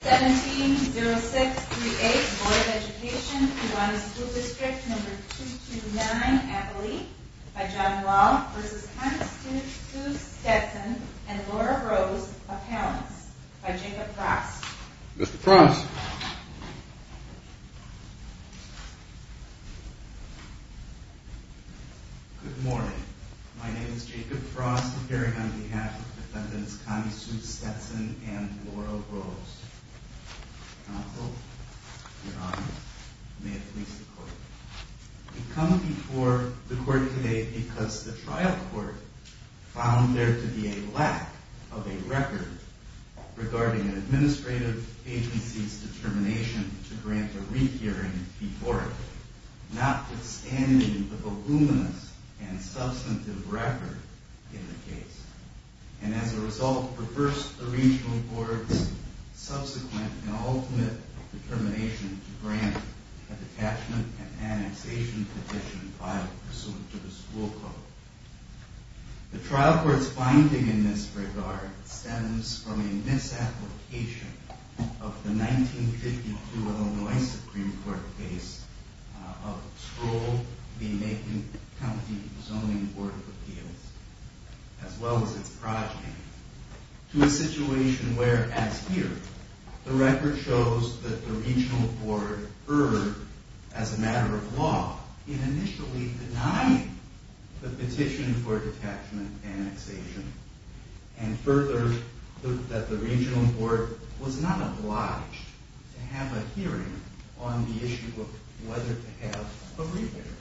170638, Board of Education, Kewanee School District No. 229, Appalachia, by John Wall v. Connie Sue Stetson and Laura Rose, Appellants, by Jacob Frost Mr. Frost Good morning. My name is Jacob Frost, appearing on behalf of Defendants Connie Sue Stetson and Laura Rose. Counsel, your Honor, may it please the Court. We come before the Court today because the trial court found there to be a lack of a record regarding an administrative agency's determination to grant a re-hearing before it, notwithstanding the voluminous and substantive record in the case, and as a result reversed the Regional Court's subsequent and ultimate determination to grant a detachment and annexation petition filed pursuant to the school code. The trial court's finding in this regard stems from a misapplication of the 1952 Illinois Supreme Court case of Stroll v. Macon County Zoning Board of Appeals, as well as its project, to a situation where, as here, the record shows that the Regional Court erred, as a matter of law, in initially denying the petition for detachment and annexation, and further, that the Regional Court was not obliged to have a hearing on the issue of whether to have a re-hearing,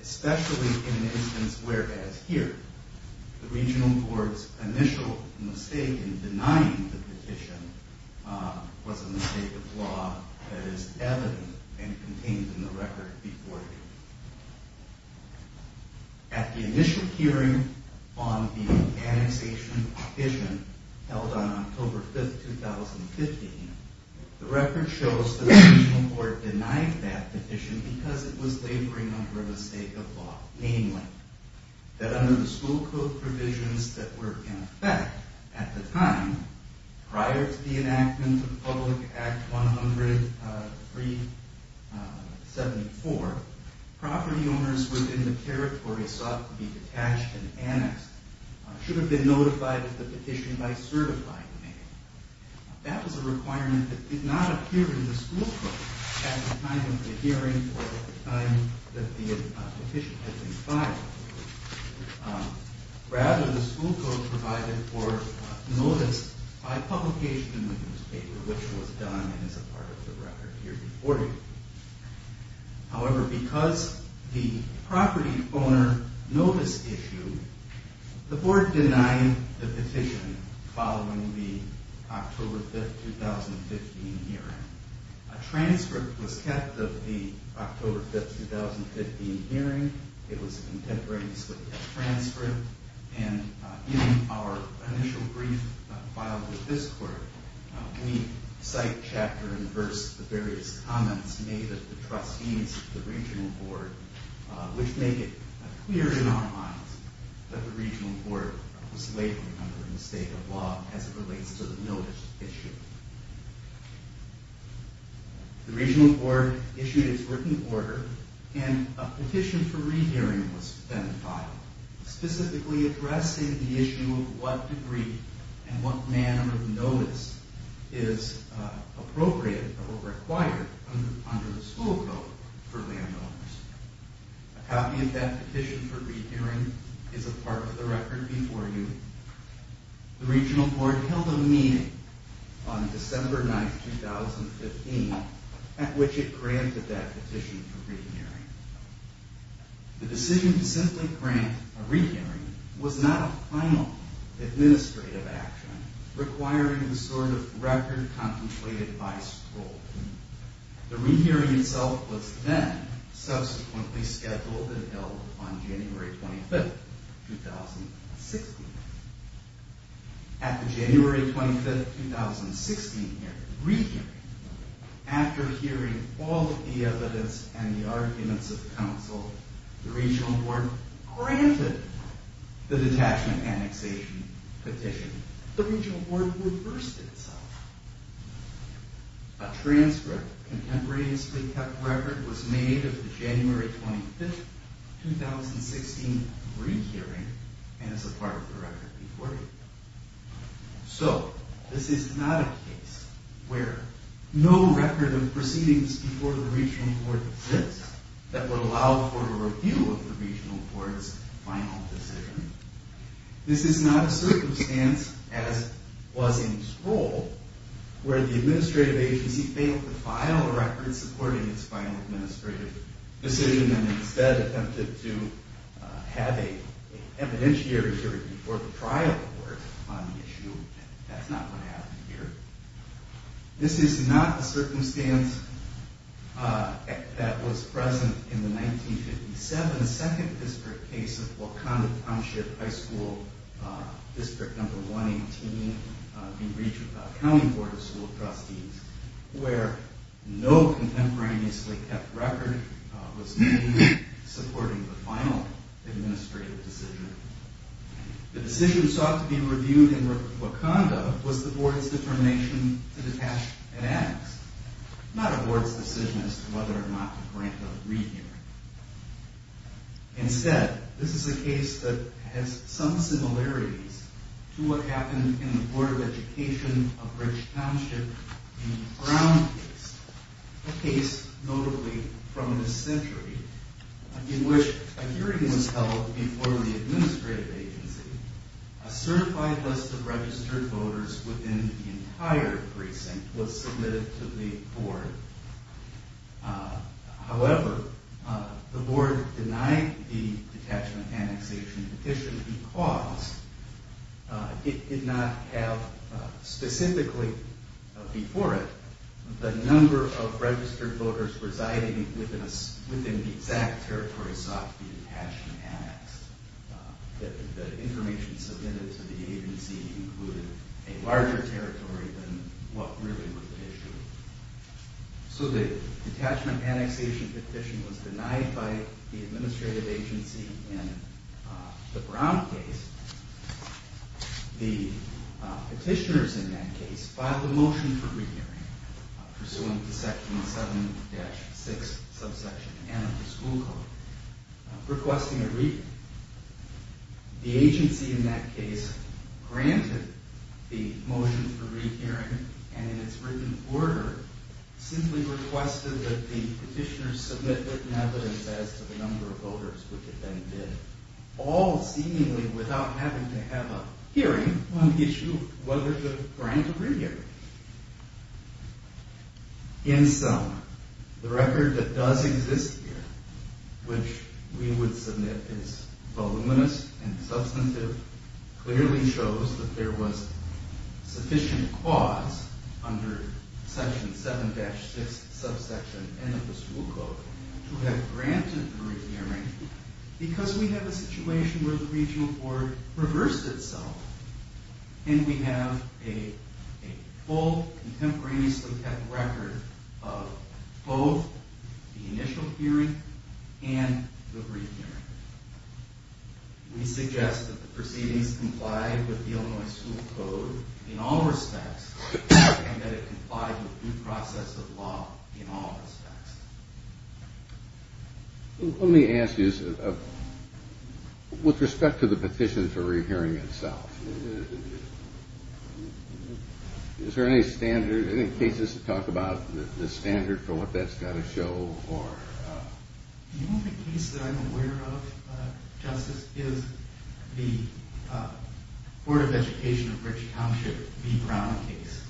especially in an instance where, as here, the Regional Court's initial mistake in denying the petition was a mistake of law that is evident and contained in the record before it. At the initial hearing on the annexation petition held on October 5, 2015, the record shows that the Regional Court denied that petition because it was laboring under a mistake of law, namely, that under the school code provisions that were in effect at the time, prior to the enactment of Public Act 103.74, property owners within the territory sought to be detached and annexed should have been notified of the petition by certifying name. That was a requirement that did not appear in the school code at the time of the hearing or at the time that the petition had been filed. Rather, the school code provided for notice by publication in the newspaper, which was done as a part of the record here before you. However, because of the property owner notice issue, the Board denied the petition following the October 5, 2015 hearing. A transcript was kept of the October 5, 2015 hearing. It was contemporaneous with the transcript, and in our initial brief filed with this Court, we cite chapter and verse of various comments made of the trustees of the Regional Board, which make it clear in our minds that the Regional Board was laboring under a mistake of law as it relates to the notice issue. The Regional Board issued its working order, and a petition for rehearing was then filed, specifically addressing the issue of what degree and what manner of notice is appropriate or required under the school code for landowners. A copy of that petition for rehearing is a part of the record before you. The Regional Board held a meeting on December 9, 2015 at which it granted that petition for rehearing. The decision to simply grant a rehearing was not a final administrative action requiring the sort of record contemplated by school. The rehearing itself was then subsequently scheduled and held on January 25, 2016. At the January 25, 2016 rehearing, after hearing all of the evidence and the arguments of counsel, the Regional Board granted the detachment annexation petition. The Regional Board reversed itself. A transcript, contemporaneously kept record, was made of the January 25, 2016 rehearing and is a part of the record before you. So, this is not a case where no record of proceedings before the Regional Board exists that would allow for a review of the Regional Board's final decision. This is not a circumstance, as was in Sproul, where the administrative agency failed to file a record supporting its final administrative decision and instead attempted to have an evidentiary hearing before the trial court on the issue. That's not what happened here. This is not a circumstance that was present in the 1957 Second District case of Wakanda Township High School District No. 118 in reach of the County Board of School Trustees where no contemporaneously kept record was made supporting the final administrative decision. The decision sought to be reviewed in Wakanda was the Board's determination to detach an annex, not a Board's decision as to whether or not to grant a rehearing. Instead, this is a case that has some similarities to what happened in the Board of Education of Bridge Township in the Brown case, a case notably from this century, in which a hearing was held before the administrative agency. A certified list of registered voters within the entire precinct was submitted to the Board. However, the Board denied the detachment annexation petition because it did not have specifically before it the number of registered voters residing within the exact territory sought to be detached and annexed. The information submitted to the agency included a larger territory than what really was the issue. So the detachment annexation petition was denied by the administrative agency in the Brown case. The petitioners in that case filed a motion for rehearing, pursuant to Section 7-6, Subsection N of the School Code, requesting a re-hearing. The agency in that case granted the motion for rehearing, and in its written order simply requested that the petitioners submit written evidence as to the number of voters, which it then did, all seemingly without having to have a hearing on the issue of whether to grant a rehearing. In sum, the record that does exist here, which we would submit is voluminous and substantive, clearly shows that there was sufficient cause under Section 7-6, Subsection N of the School Code to have granted a re-hearing because we have a situation where the Regional Board reversed itself, and we have a full, contemporaneously kept record of both the initial hearing and the re-hearing. We suggest that the proceedings comply with the Illinois School Code in all respects, and that it comply with due process of law in all respects. Let me ask you, with respect to the petition for re-hearing itself, is there any standard, any cases that talk about the standard for what that's got to show? The only case that I'm aware of, Justice, is the Board of Education of Richey Township v. Brown case.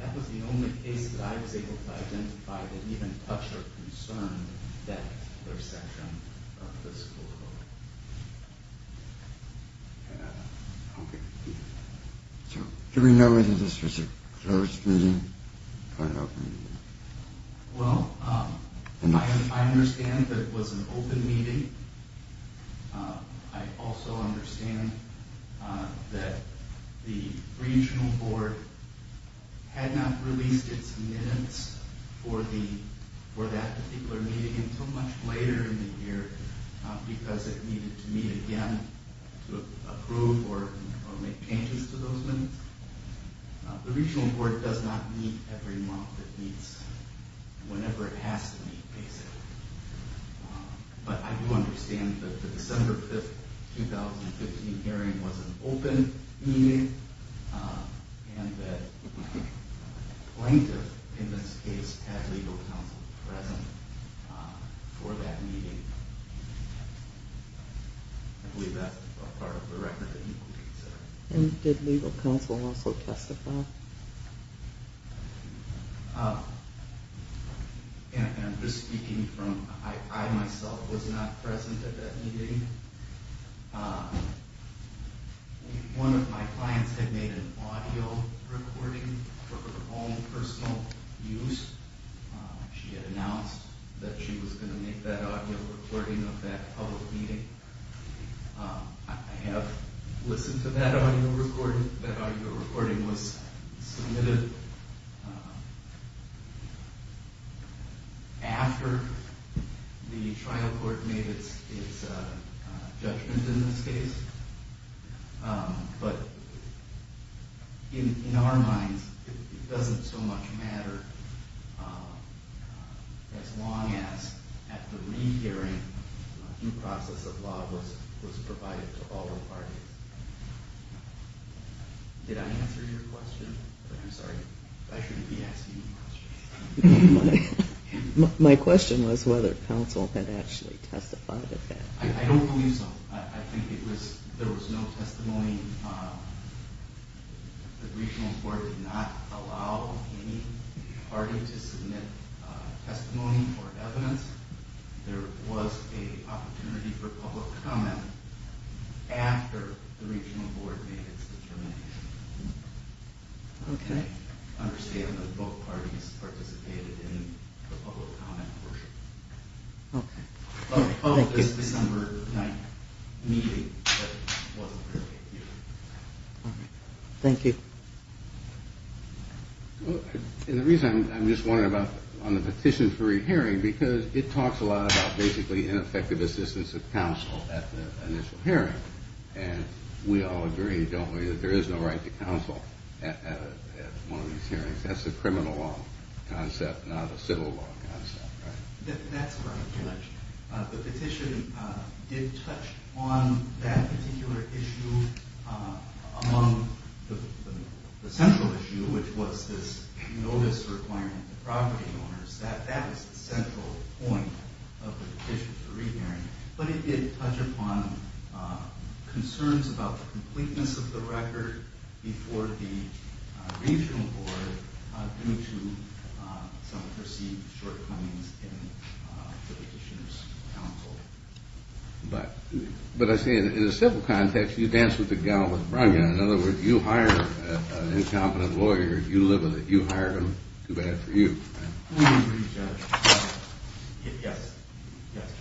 That was the only case that I was able to identify that even touched or concerned that section of the School Code. Do we know whether this was a closed meeting or an open meeting? Well, I understand that it was an open meeting. I also understand that the Regional Board had not released its minutes for that particular meeting until much later in the year because it needed to meet again to approve or make changes to those minutes. The Regional Board does not meet every month. It meets whenever it has to meet, basically. But I do understand that the December 5, 2015 hearing was an open meeting, and that a plaintiff, in this case, had legal counsel present for that meeting. I believe that's a part of the record that you could consider. And did legal counsel also testify? I'm just speaking from, I myself was not present at that meeting. One of my clients had made an audio recording for her own personal use. She had announced that she was going to make that audio recording of that public meeting. I have listened to that audio recording. That audio recording was submitted after the trial court made its judgment in this case. But in our minds, it doesn't so much matter as long as, at the re-hearing, due process of law was provided to all parties. Did I answer your question? I'm sorry, I shouldn't be asking you questions. My question was whether counsel had actually testified at that. I don't believe so. I think there was no testimony. The Regional Board did not allow any party to submit testimony or evidence. There was an opportunity for public comment after the Regional Board made its determination. I understand that both parties participated in the public comment portion. It was a December 9th meeting. Thank you. The reason I'm just wondering about the petition for re-hearing is because it talks a lot about ineffective assistance of counsel at the initial hearing. And we all agree, don't we, that there is no right to counsel at one of these hearings. That's a criminal law concept, not a civil law concept. That's correct, Judge. The petition did touch on that particular issue among the central issue, which was this notice requirement to property owners. That was the central point of the petition for re-hearing. But it did touch upon concerns about the completeness of the record before the Regional Board, due to some perceived shortcomings in the petitioner's counsel. But I say, in a civil context, you dance with the gallon with the brunt of it. In other words, you hire an incompetent lawyer, you live with it, you hire him, too bad for you. We agree, Judge. Yes. Yes, Justice.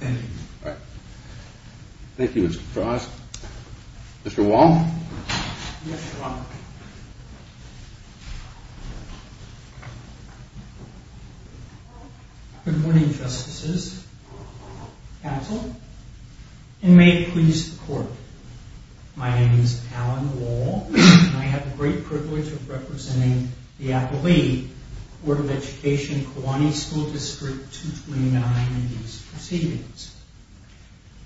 Thank you. Thank you, Mr. Frost. Mr. Wall? Yes, Your Honor. Good morning, Justices, counsel, and may it please the Court. My name is Alan Wall, and I have the great privilege of representing the affilee, Board of Education, Kewanee School District 229, in these proceedings.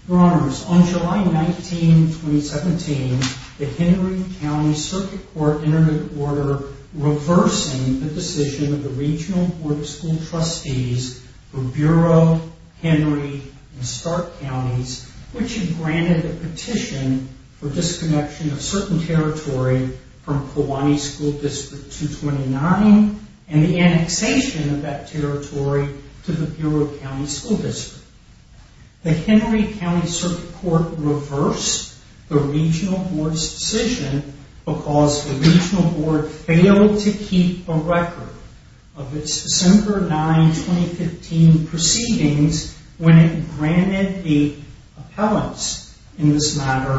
Your Honors, on July 19, 2017, the Henry County Circuit Court entered into order reversing the decision of the Regional Board of School Trustees for Bureau, Henry, and Stark Counties, which had granted a petition for disconnection of certain territory from Kewanee School District 229, and the annexation of that territory to the Bureau County School District. The Henry County Circuit Court reversed the Regional Board's decision because the Regional Board failed to keep a record of its December 9, 2015, proceedings when it granted the appellants in this matter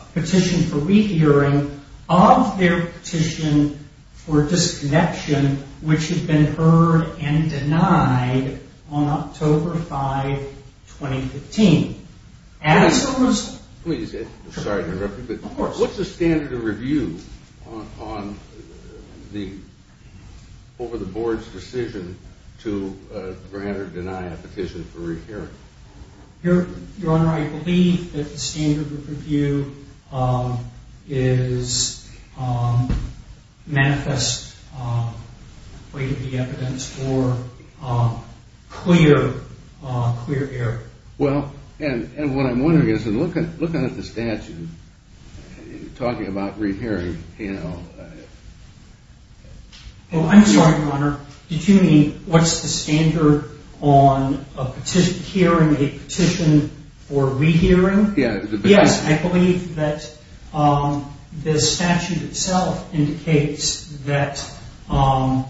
a petition for rehearing of their petition for disconnection, which had been heard and denied on October 5, 2015. Please, I'm sorry to interrupt you, but what's the standard of review over the Board's decision to grant or deny a petition for rehearing? Your Honor, I believe that the standard of review is manifest way to the evidence for clear error. Well, and what I'm wondering is, in looking at the statute, talking about rehearing, you know... Oh, I'm sorry, Your Honor. Did you mean, what's the standard on hearing a petition for rehearing? Yes. Yes, I believe that the statute itself indicates that the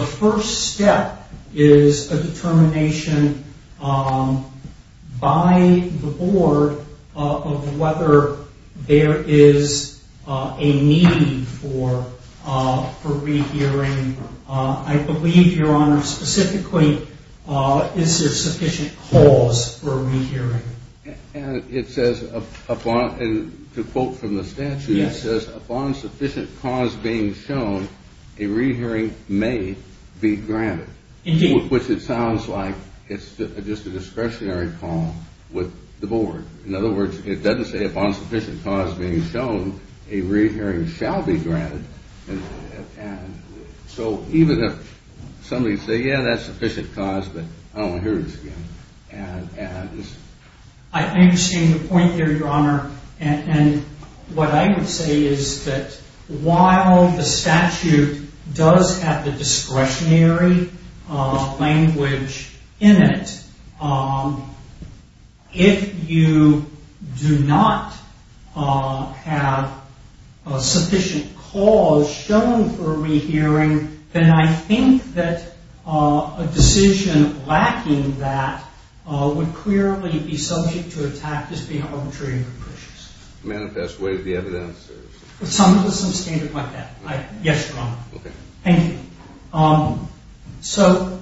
first step is a determination by the Board of whether there is a need for rehearing. I believe, Your Honor, specifically, is there sufficient cause for rehearing. And it says, to quote from the statute, it says, upon sufficient cause being shown, a rehearing may be granted. Indeed. Which it sounds like it's just a discretionary call with the Board. In other words, it doesn't say upon sufficient cause being shown, a rehearing shall be granted. So even if somebody says, yeah, that's sufficient cause, but I don't want to hear this again. I understand your point there, Your Honor, and what I would say is that while the statute does have the discretionary language in it, if you do not have sufficient cause shown for rehearing, then I think that a decision lacking that would clearly be subject to a tactic of being arbitrary and capricious. Manifest. What is the evidence? Some of it is some standard like that. Yes, Your Honor. Okay. Thank you. So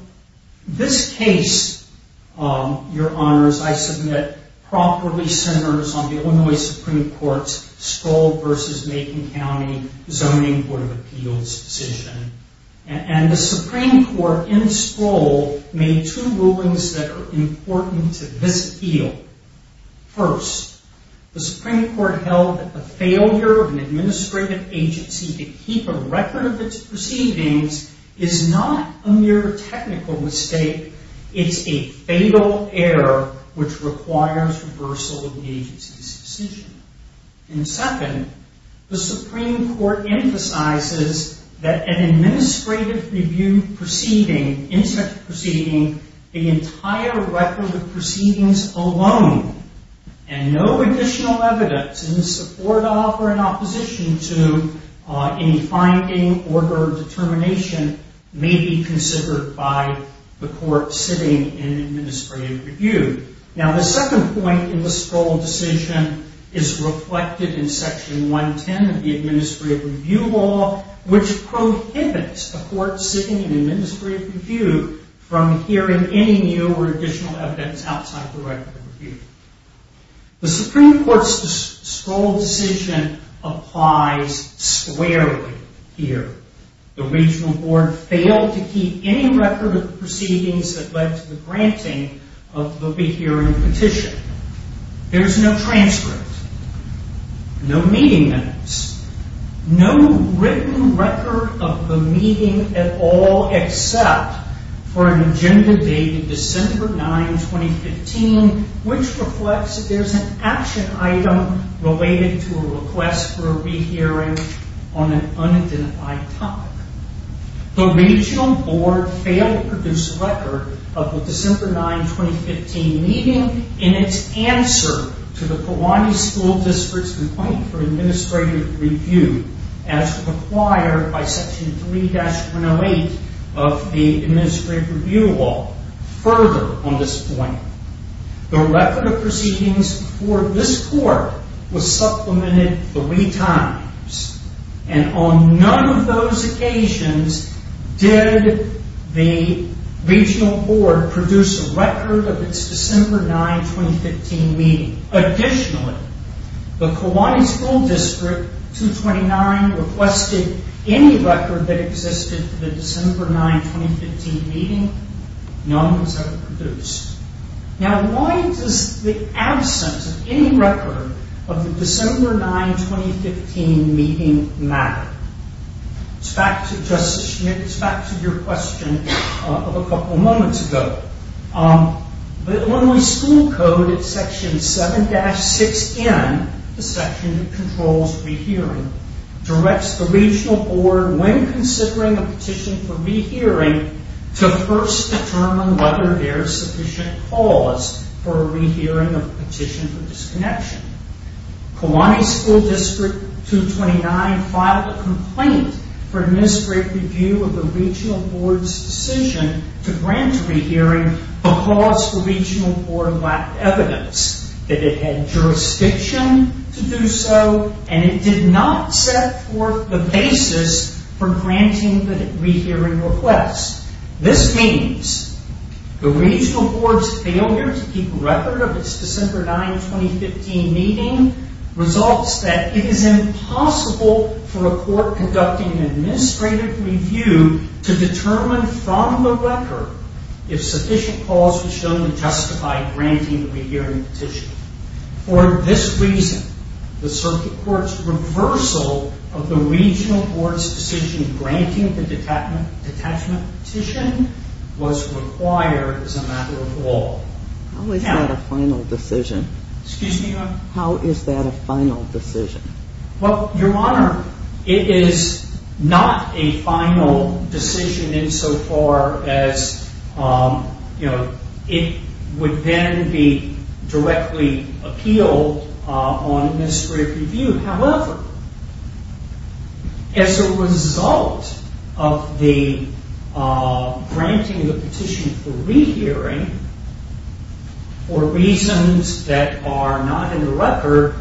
this case, Your Honors, I submit properly centers on the Illinois Supreme Court's Stroll v. Macon County Zoning Court of Appeals decision. And the Supreme Court in Stroll made two rulings that are important to this appeal. First, the Supreme Court held that the failure of an administrative agency to keep a record of its proceedings is not a mere technical mistake. It's a fatal error which requires reversal of the agency's decision. And second, the Supreme Court emphasizes that an administrative review proceeding, incident proceeding, the entire record of proceedings alone, and no additional evidence in support of or in opposition to any finding, order, or determination may be considered by the court sitting in administrative review. Now, the second point in the Stroll decision is reflected in Section 110 of the Administrative Review Law, which prohibits the court sitting in administrative review from hearing any new or additional evidence outside the record of review. The Supreme Court's Stroll decision applies squarely here. The Regional Board failed to keep any record of the proceedings that led to the granting of the rehearing petition. There's no transcript, no meeting notes, no written record of the meeting at all except for an agenda dated December 9, 2015, which reflects that there's an action item related to a request for a rehearing on an unidentified topic. The Regional Board failed to produce a record of the December 9, 2015 meeting in its answer to the Kewanee School District's complaint for administrative review as required by Section 3-108 of the Administrative Review Law. Further on this point, the record of proceedings for this court was supplemented three times, and on none of those occasions did the Regional Board produce a record of its December 9, 2015 meeting. Additionally, the Kewanee School District 229 requested any record that existed for the December 9, 2015 meeting. None was ever produced. Now, why does the absence of any record of the December 9, 2015 meeting matter? It's back to Justice Schmitt, it's back to your question of a couple of moments ago. The Illinois School Code at Section 7-6N, the section that controls rehearing, directs the Regional Board, when considering a petition for rehearing, to first determine whether there is sufficient cause for a rehearing of a petition for disconnection. Kewanee School District 229 filed a complaint for administrative review of the Regional Board's decision to grant a rehearing because the Regional Board lacked evidence that it had jurisdiction to do so, and it did not set forth the basis for granting the rehearing request. This means the Regional Board's failure to keep record of its December 9, 2015 meeting results that it is impossible for a court conducting an administrative review to determine from the record if sufficient cause was shown to justify granting the rehearing petition. For this reason, the Circuit Court's reversal of the Regional Board's decision granting the detachment petition was required as a matter of law. How is that a final decision? Your Honor, it is not a final decision insofar as it would then be directly appealed on administrative review. However, as a result of the granting of the petition for rehearing, for reasons that are not in the record,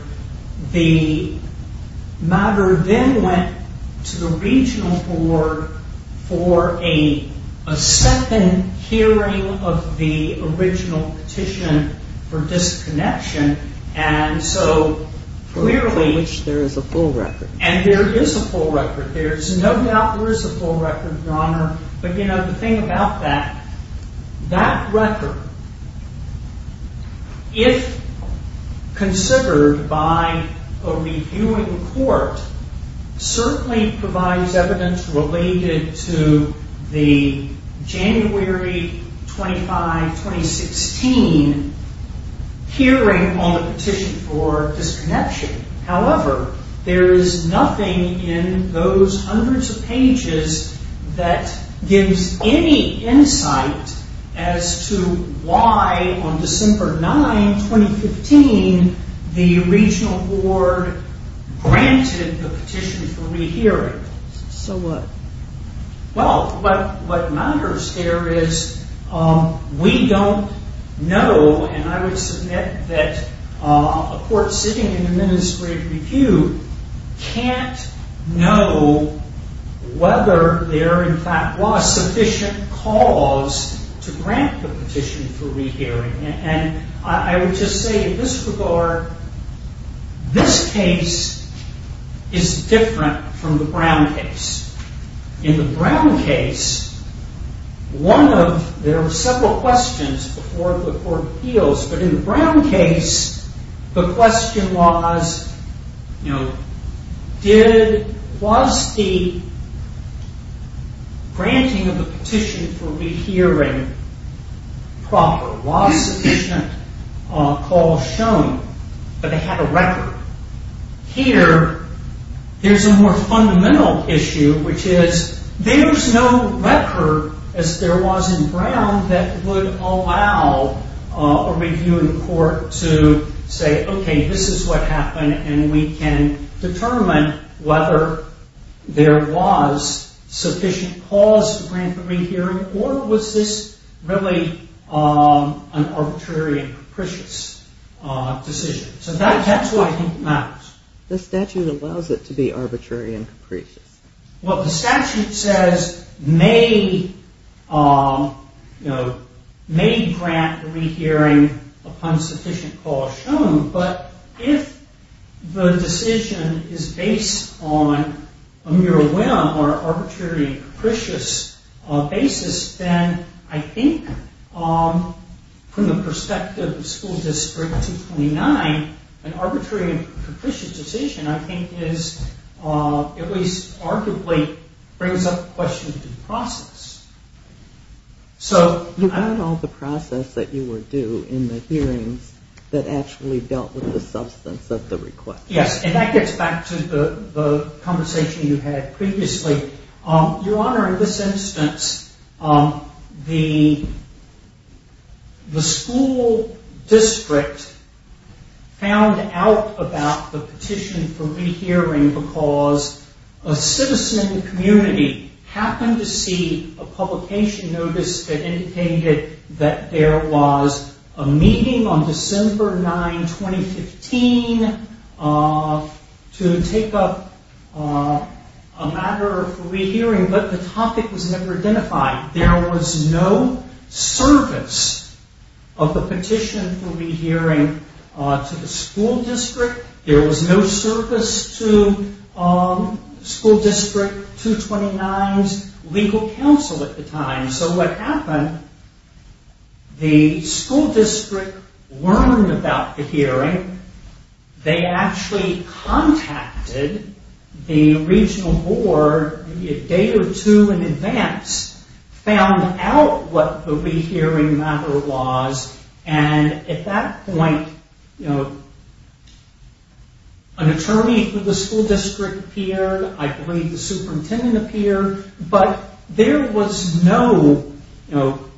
the matter then went to the Regional Board for a second hearing of the original petition for disconnection. For which there is a full record. And there is a full record. There is no doubt there is a full record, Your Honor. But the thing about that, that record, if considered by a reviewing court, certainly provides evidence related to the January 25, 2016 hearing on the petition for disconnection. However, there is nothing in those hundreds of pages that gives any insight as to why on December 9, 2015, the Regional Board granted the petition for rehearing. So what? Well, what matters here is we don't know, and I would submit that a court sitting in administrative review can't know whether there in fact was sufficient cause to grant the petition for rehearing. I would just say in this regard, this case is different from the Brown case. In the Brown case, there were several questions before the court appeals. But in the Brown case, the question was, was the granting of the petition for rehearing proper? Was sufficient cause shown? But they had a record. Here, there's a more fundamental issue, which is there's no record, as there was in Brown, that would allow a reviewing court to say, okay, this is what happened, and we can determine whether there was sufficient cause to grant the rehearing, or was this really an arbitrary and capricious decision? So that's what I think matters. The statute allows it to be arbitrary and capricious. Well, the statute says may grant the rehearing upon sufficient cause shown, but if the decision is based on a mere whim or arbitrary and capricious basis, then I think from the perspective of School District 229, an arbitrary and capricious decision I think is, at least arguably, brings up questions of process. So I don't know the process that you were due in the hearings that actually dealt with the substance of the request. Yes, and that gets back to the conversation you had previously. Your Honor, in this instance, the school district found out about the petition for rehearing because a citizen community happened to see a publication notice that indicated that there was a meeting on December 9, 2015, to take up a matter of rehearing, but the topic was never identified. There was no service of the petition for rehearing to the school district. There was no service to School District 229's legal counsel at the time. So what happened, the school district learned about the hearing. They actually contacted the regional board a day or two in advance, found out what the rehearing matter was, and at that point, an attorney for the school district appeared, I believe the superintendent appeared, but there was no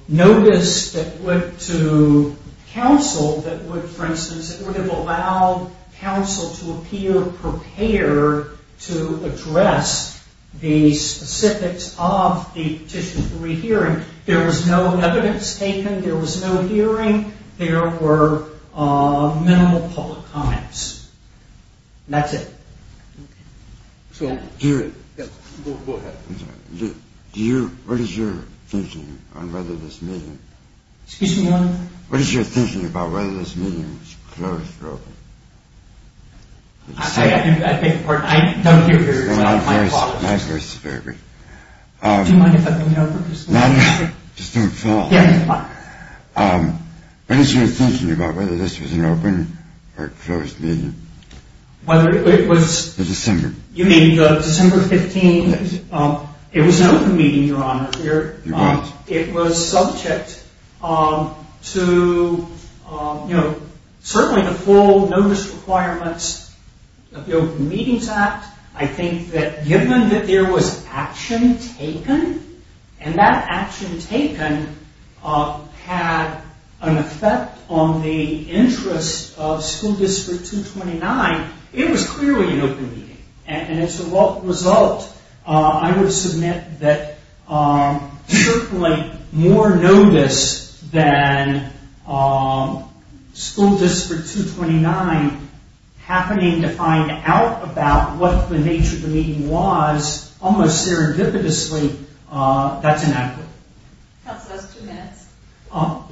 notice that went to counsel that would, for instance, that would have allowed counsel to appear prepared to address the specifics of the petition for rehearing. There was no evidence taken. There was no hearing. There were minimal public comments. And that's it. Okay. So do you... Go ahead. I'm sorry. Do you... What is your thinking on whether this meeting... Excuse me, Your Honor? What is your thinking about whether this meeting was closed or open? I beg your pardon. I don't hear hearings. My father... My first... Do you mind if I bring it over? No, no. Just don't fall. Yeah, it's fine. What is your thinking about whether this was an open or closed meeting? Whether it was... December. You mean December 15th? Yes. It was an open meeting, Your Honor. It was. It was subject to, you know, certainly the full notice requirements of the Open Meetings Act. I think that given that there was action taken, and that action taken had an effect on the interest of School District 229, it was clearly an open meeting. And as a result, I would submit that certainly more notice than School District 229 happening to find out about what the nature of the meeting was, almost serendipitously, that's inaccurate. Counsel has two minutes.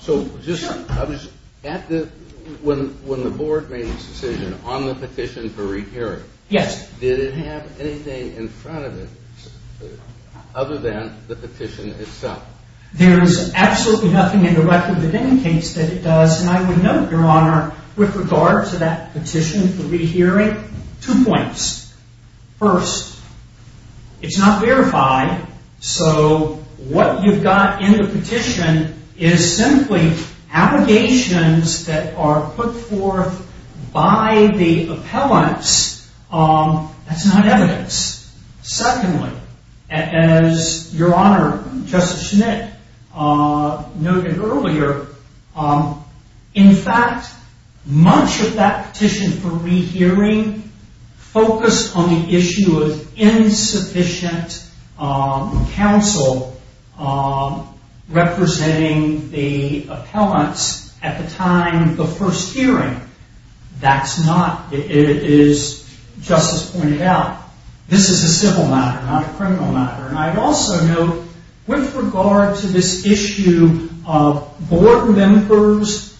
So just... Sure. When the Board made its decision on the petition for re-hearing... Yes. ...did it have anything in front of it other than the petition itself? There is absolutely nothing in the record within the case that it does, and I would note, Your Honor, with regard to that petition for re-hearing, two points. First, it's not verified, so what you've got in the petition is simply allegations that are put forth by the appellants. That's not evidence. Secondly, as Your Honor, Justice Schmitt noted earlier, in fact, much of that petition for re-hearing focused on the issue of insufficient counsel representing the appellants at the time of the first hearing. That's not, as Justice pointed out, this is a civil matter, not a criminal matter. And I'd also note, with regard to this issue of Board members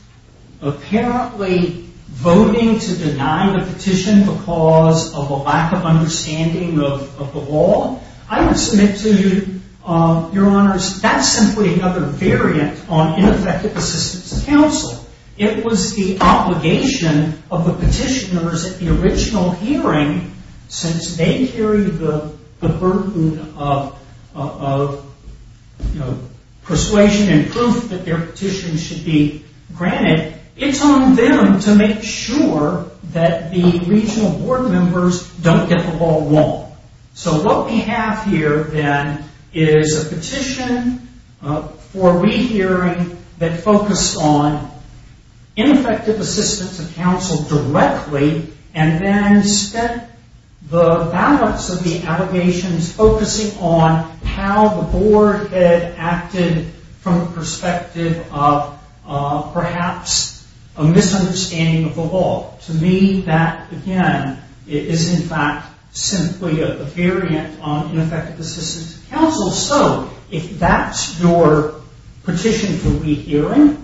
apparently voting to deny the petition because of a lack of understanding of the law, I would submit to you, Your Honors, that's simply another variant on ineffective assistance of counsel. It was the obligation of the petitioners at the original hearing, since they carried the burden of persuasion and proof that their petition should be granted, it's on them to make sure that the regional Board members don't get the ball wrong. So what we have here, then, is a petition for re-hearing that focused on ineffective assistance of counsel directly and then spent the balance of the allegations focusing on how the Board had acted from the perspective of perhaps a misunderstanding of the law. To me, that, again, is in fact simply a variant on ineffective assistance of counsel. So if that's your petition for re-hearing,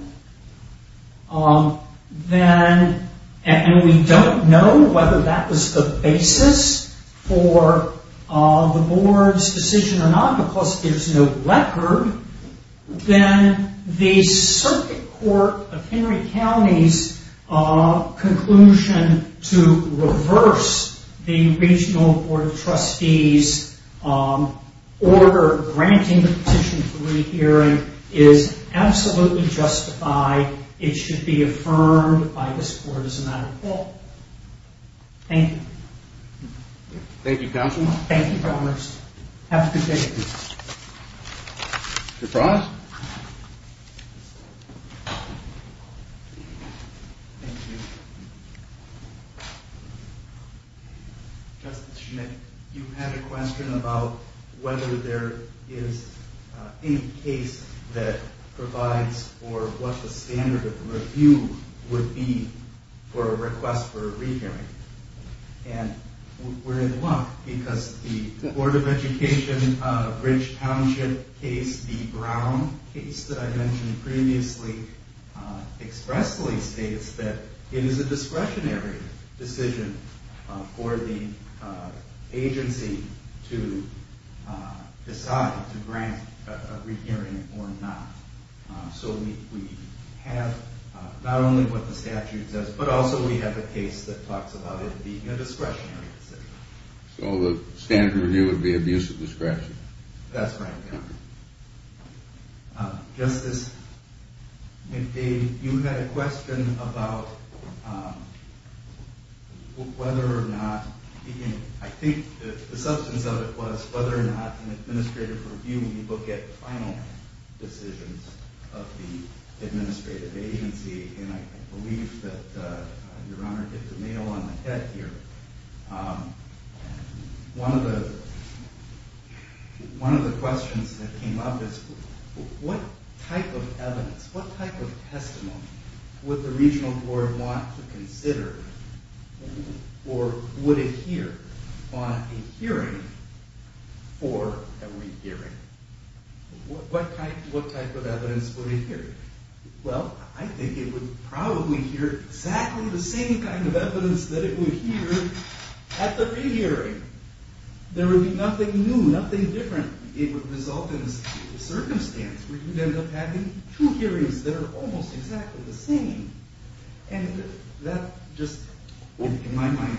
and we don't know whether that was the basis for the Board's decision or not, because there's no record, then the Circuit Court of Henry County's conclusion to reverse the Regional Board of Trustees' order granting the petition for re-hearing is absolutely justified. It should be affirmed by this Court as a matter of law. Thank you. Thank you, Counsel. Thank you, Your Honors. Have a good day. Your prize. Thank you. Justice Schmidt, you had a question about whether there is any case that provides for what the standard of review would be for a request for a re-hearing. And we're in luck, because the Board of Education Bridge Township case, the Brown case that I mentioned previously, expressly states that it is a discretionary decision for the agency to decide to grant a re-hearing or not. So we have not only what the statute says, but also we have a case that talks about it being a discretionary decision. That's right, Your Honor. Justice Schmidt, you had a question about whether or not, I think the substance of it was whether or not an administrative review will get final decisions of the administrative agency. And I believe that Your Honor hit the nail on the head here. One of the questions that came up is what type of evidence, what type of testimony would the Regional Board want to consider or would it hear on a hearing for a re-hearing? What type of evidence would it hear? Well, I think it would probably hear exactly the same kind of evidence that it would hear at the re-hearing. There would be nothing new, nothing different. It would result in a circumstance where you'd end up having two hearings that are almost exactly the same. And that just, in my mind...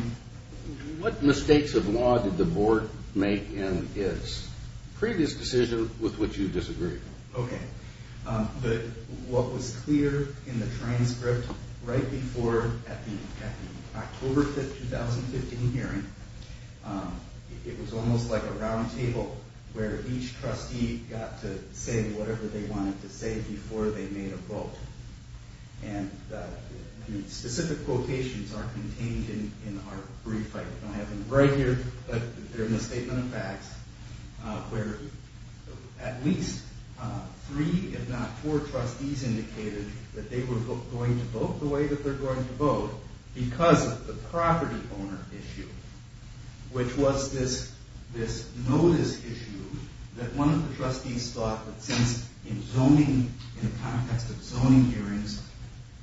What mistakes of law did the Board make in its previous decision with which you disagreed? Okay. But what was clear in the transcript right before, at the October 5th, 2015 hearing, it was almost like a roundtable where each trustee got to say whatever they wanted to say before they made a vote. And the specific quotations are contained in our brief. I have them right here, but they're in the Statement of Facts, where at least three, if not four, trustees indicated that they were going to vote the way that they're going to vote because of the property owner issue, which was this notice issue that one of the trustees thought that since in zoning, in the context of zoning hearings,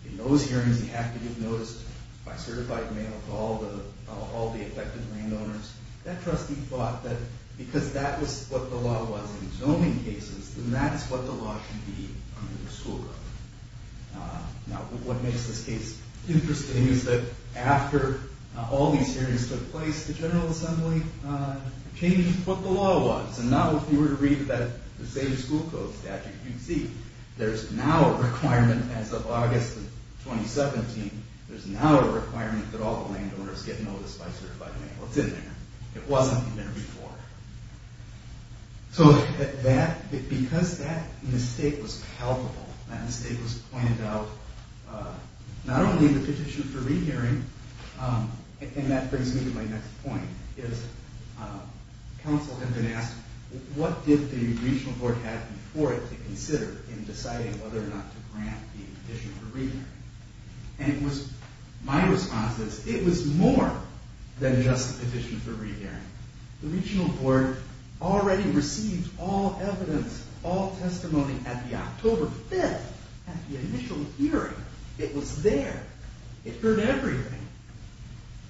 in those hearings, you have to give notice by certified mail to all the affected landowners. That trustee thought that because that was what the law was in zoning cases, then that's what the law should be under the school code. Now, what makes this case interesting is that after all these hearings took place, the General Assembly changed what the law was. And now if you were to read the same school code statute, you'd see there's now a requirement, as of August of 2017, there's now a requirement that all the landowners get notice by certified mail. It's in there. It wasn't in there before. So because that mistake was palpable, that mistake was pointed out, not only in the petition for rehearing, and that brings me to my next point, is counsel had been asked, what did the Regional Board have before it to consider in deciding whether or not to grant the petition for rehearing? And my response is, it was more than just the petition for rehearing. The Regional Board already received all evidence, all testimony at the October 5th, at the initial hearing. It was there. It heard everything.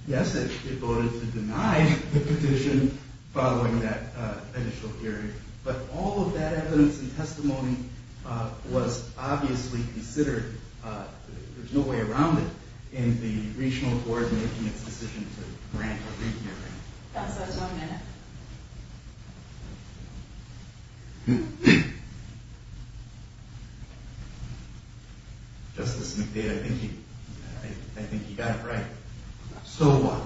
Yes, it voted to deny the petition following that initial hearing, but all of that evidence and testimony was obviously considered. There's no way around it in the Regional Board making its decision to grant a rehearing. Counsel has one minute. Justice McDade, I think you got it right. So what?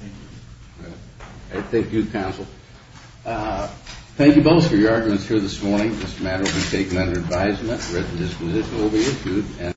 Thank you. Thank you, counsel. Thank you both for your arguments here this morning. This matter will be taken under advisement. Resolutions will be issued.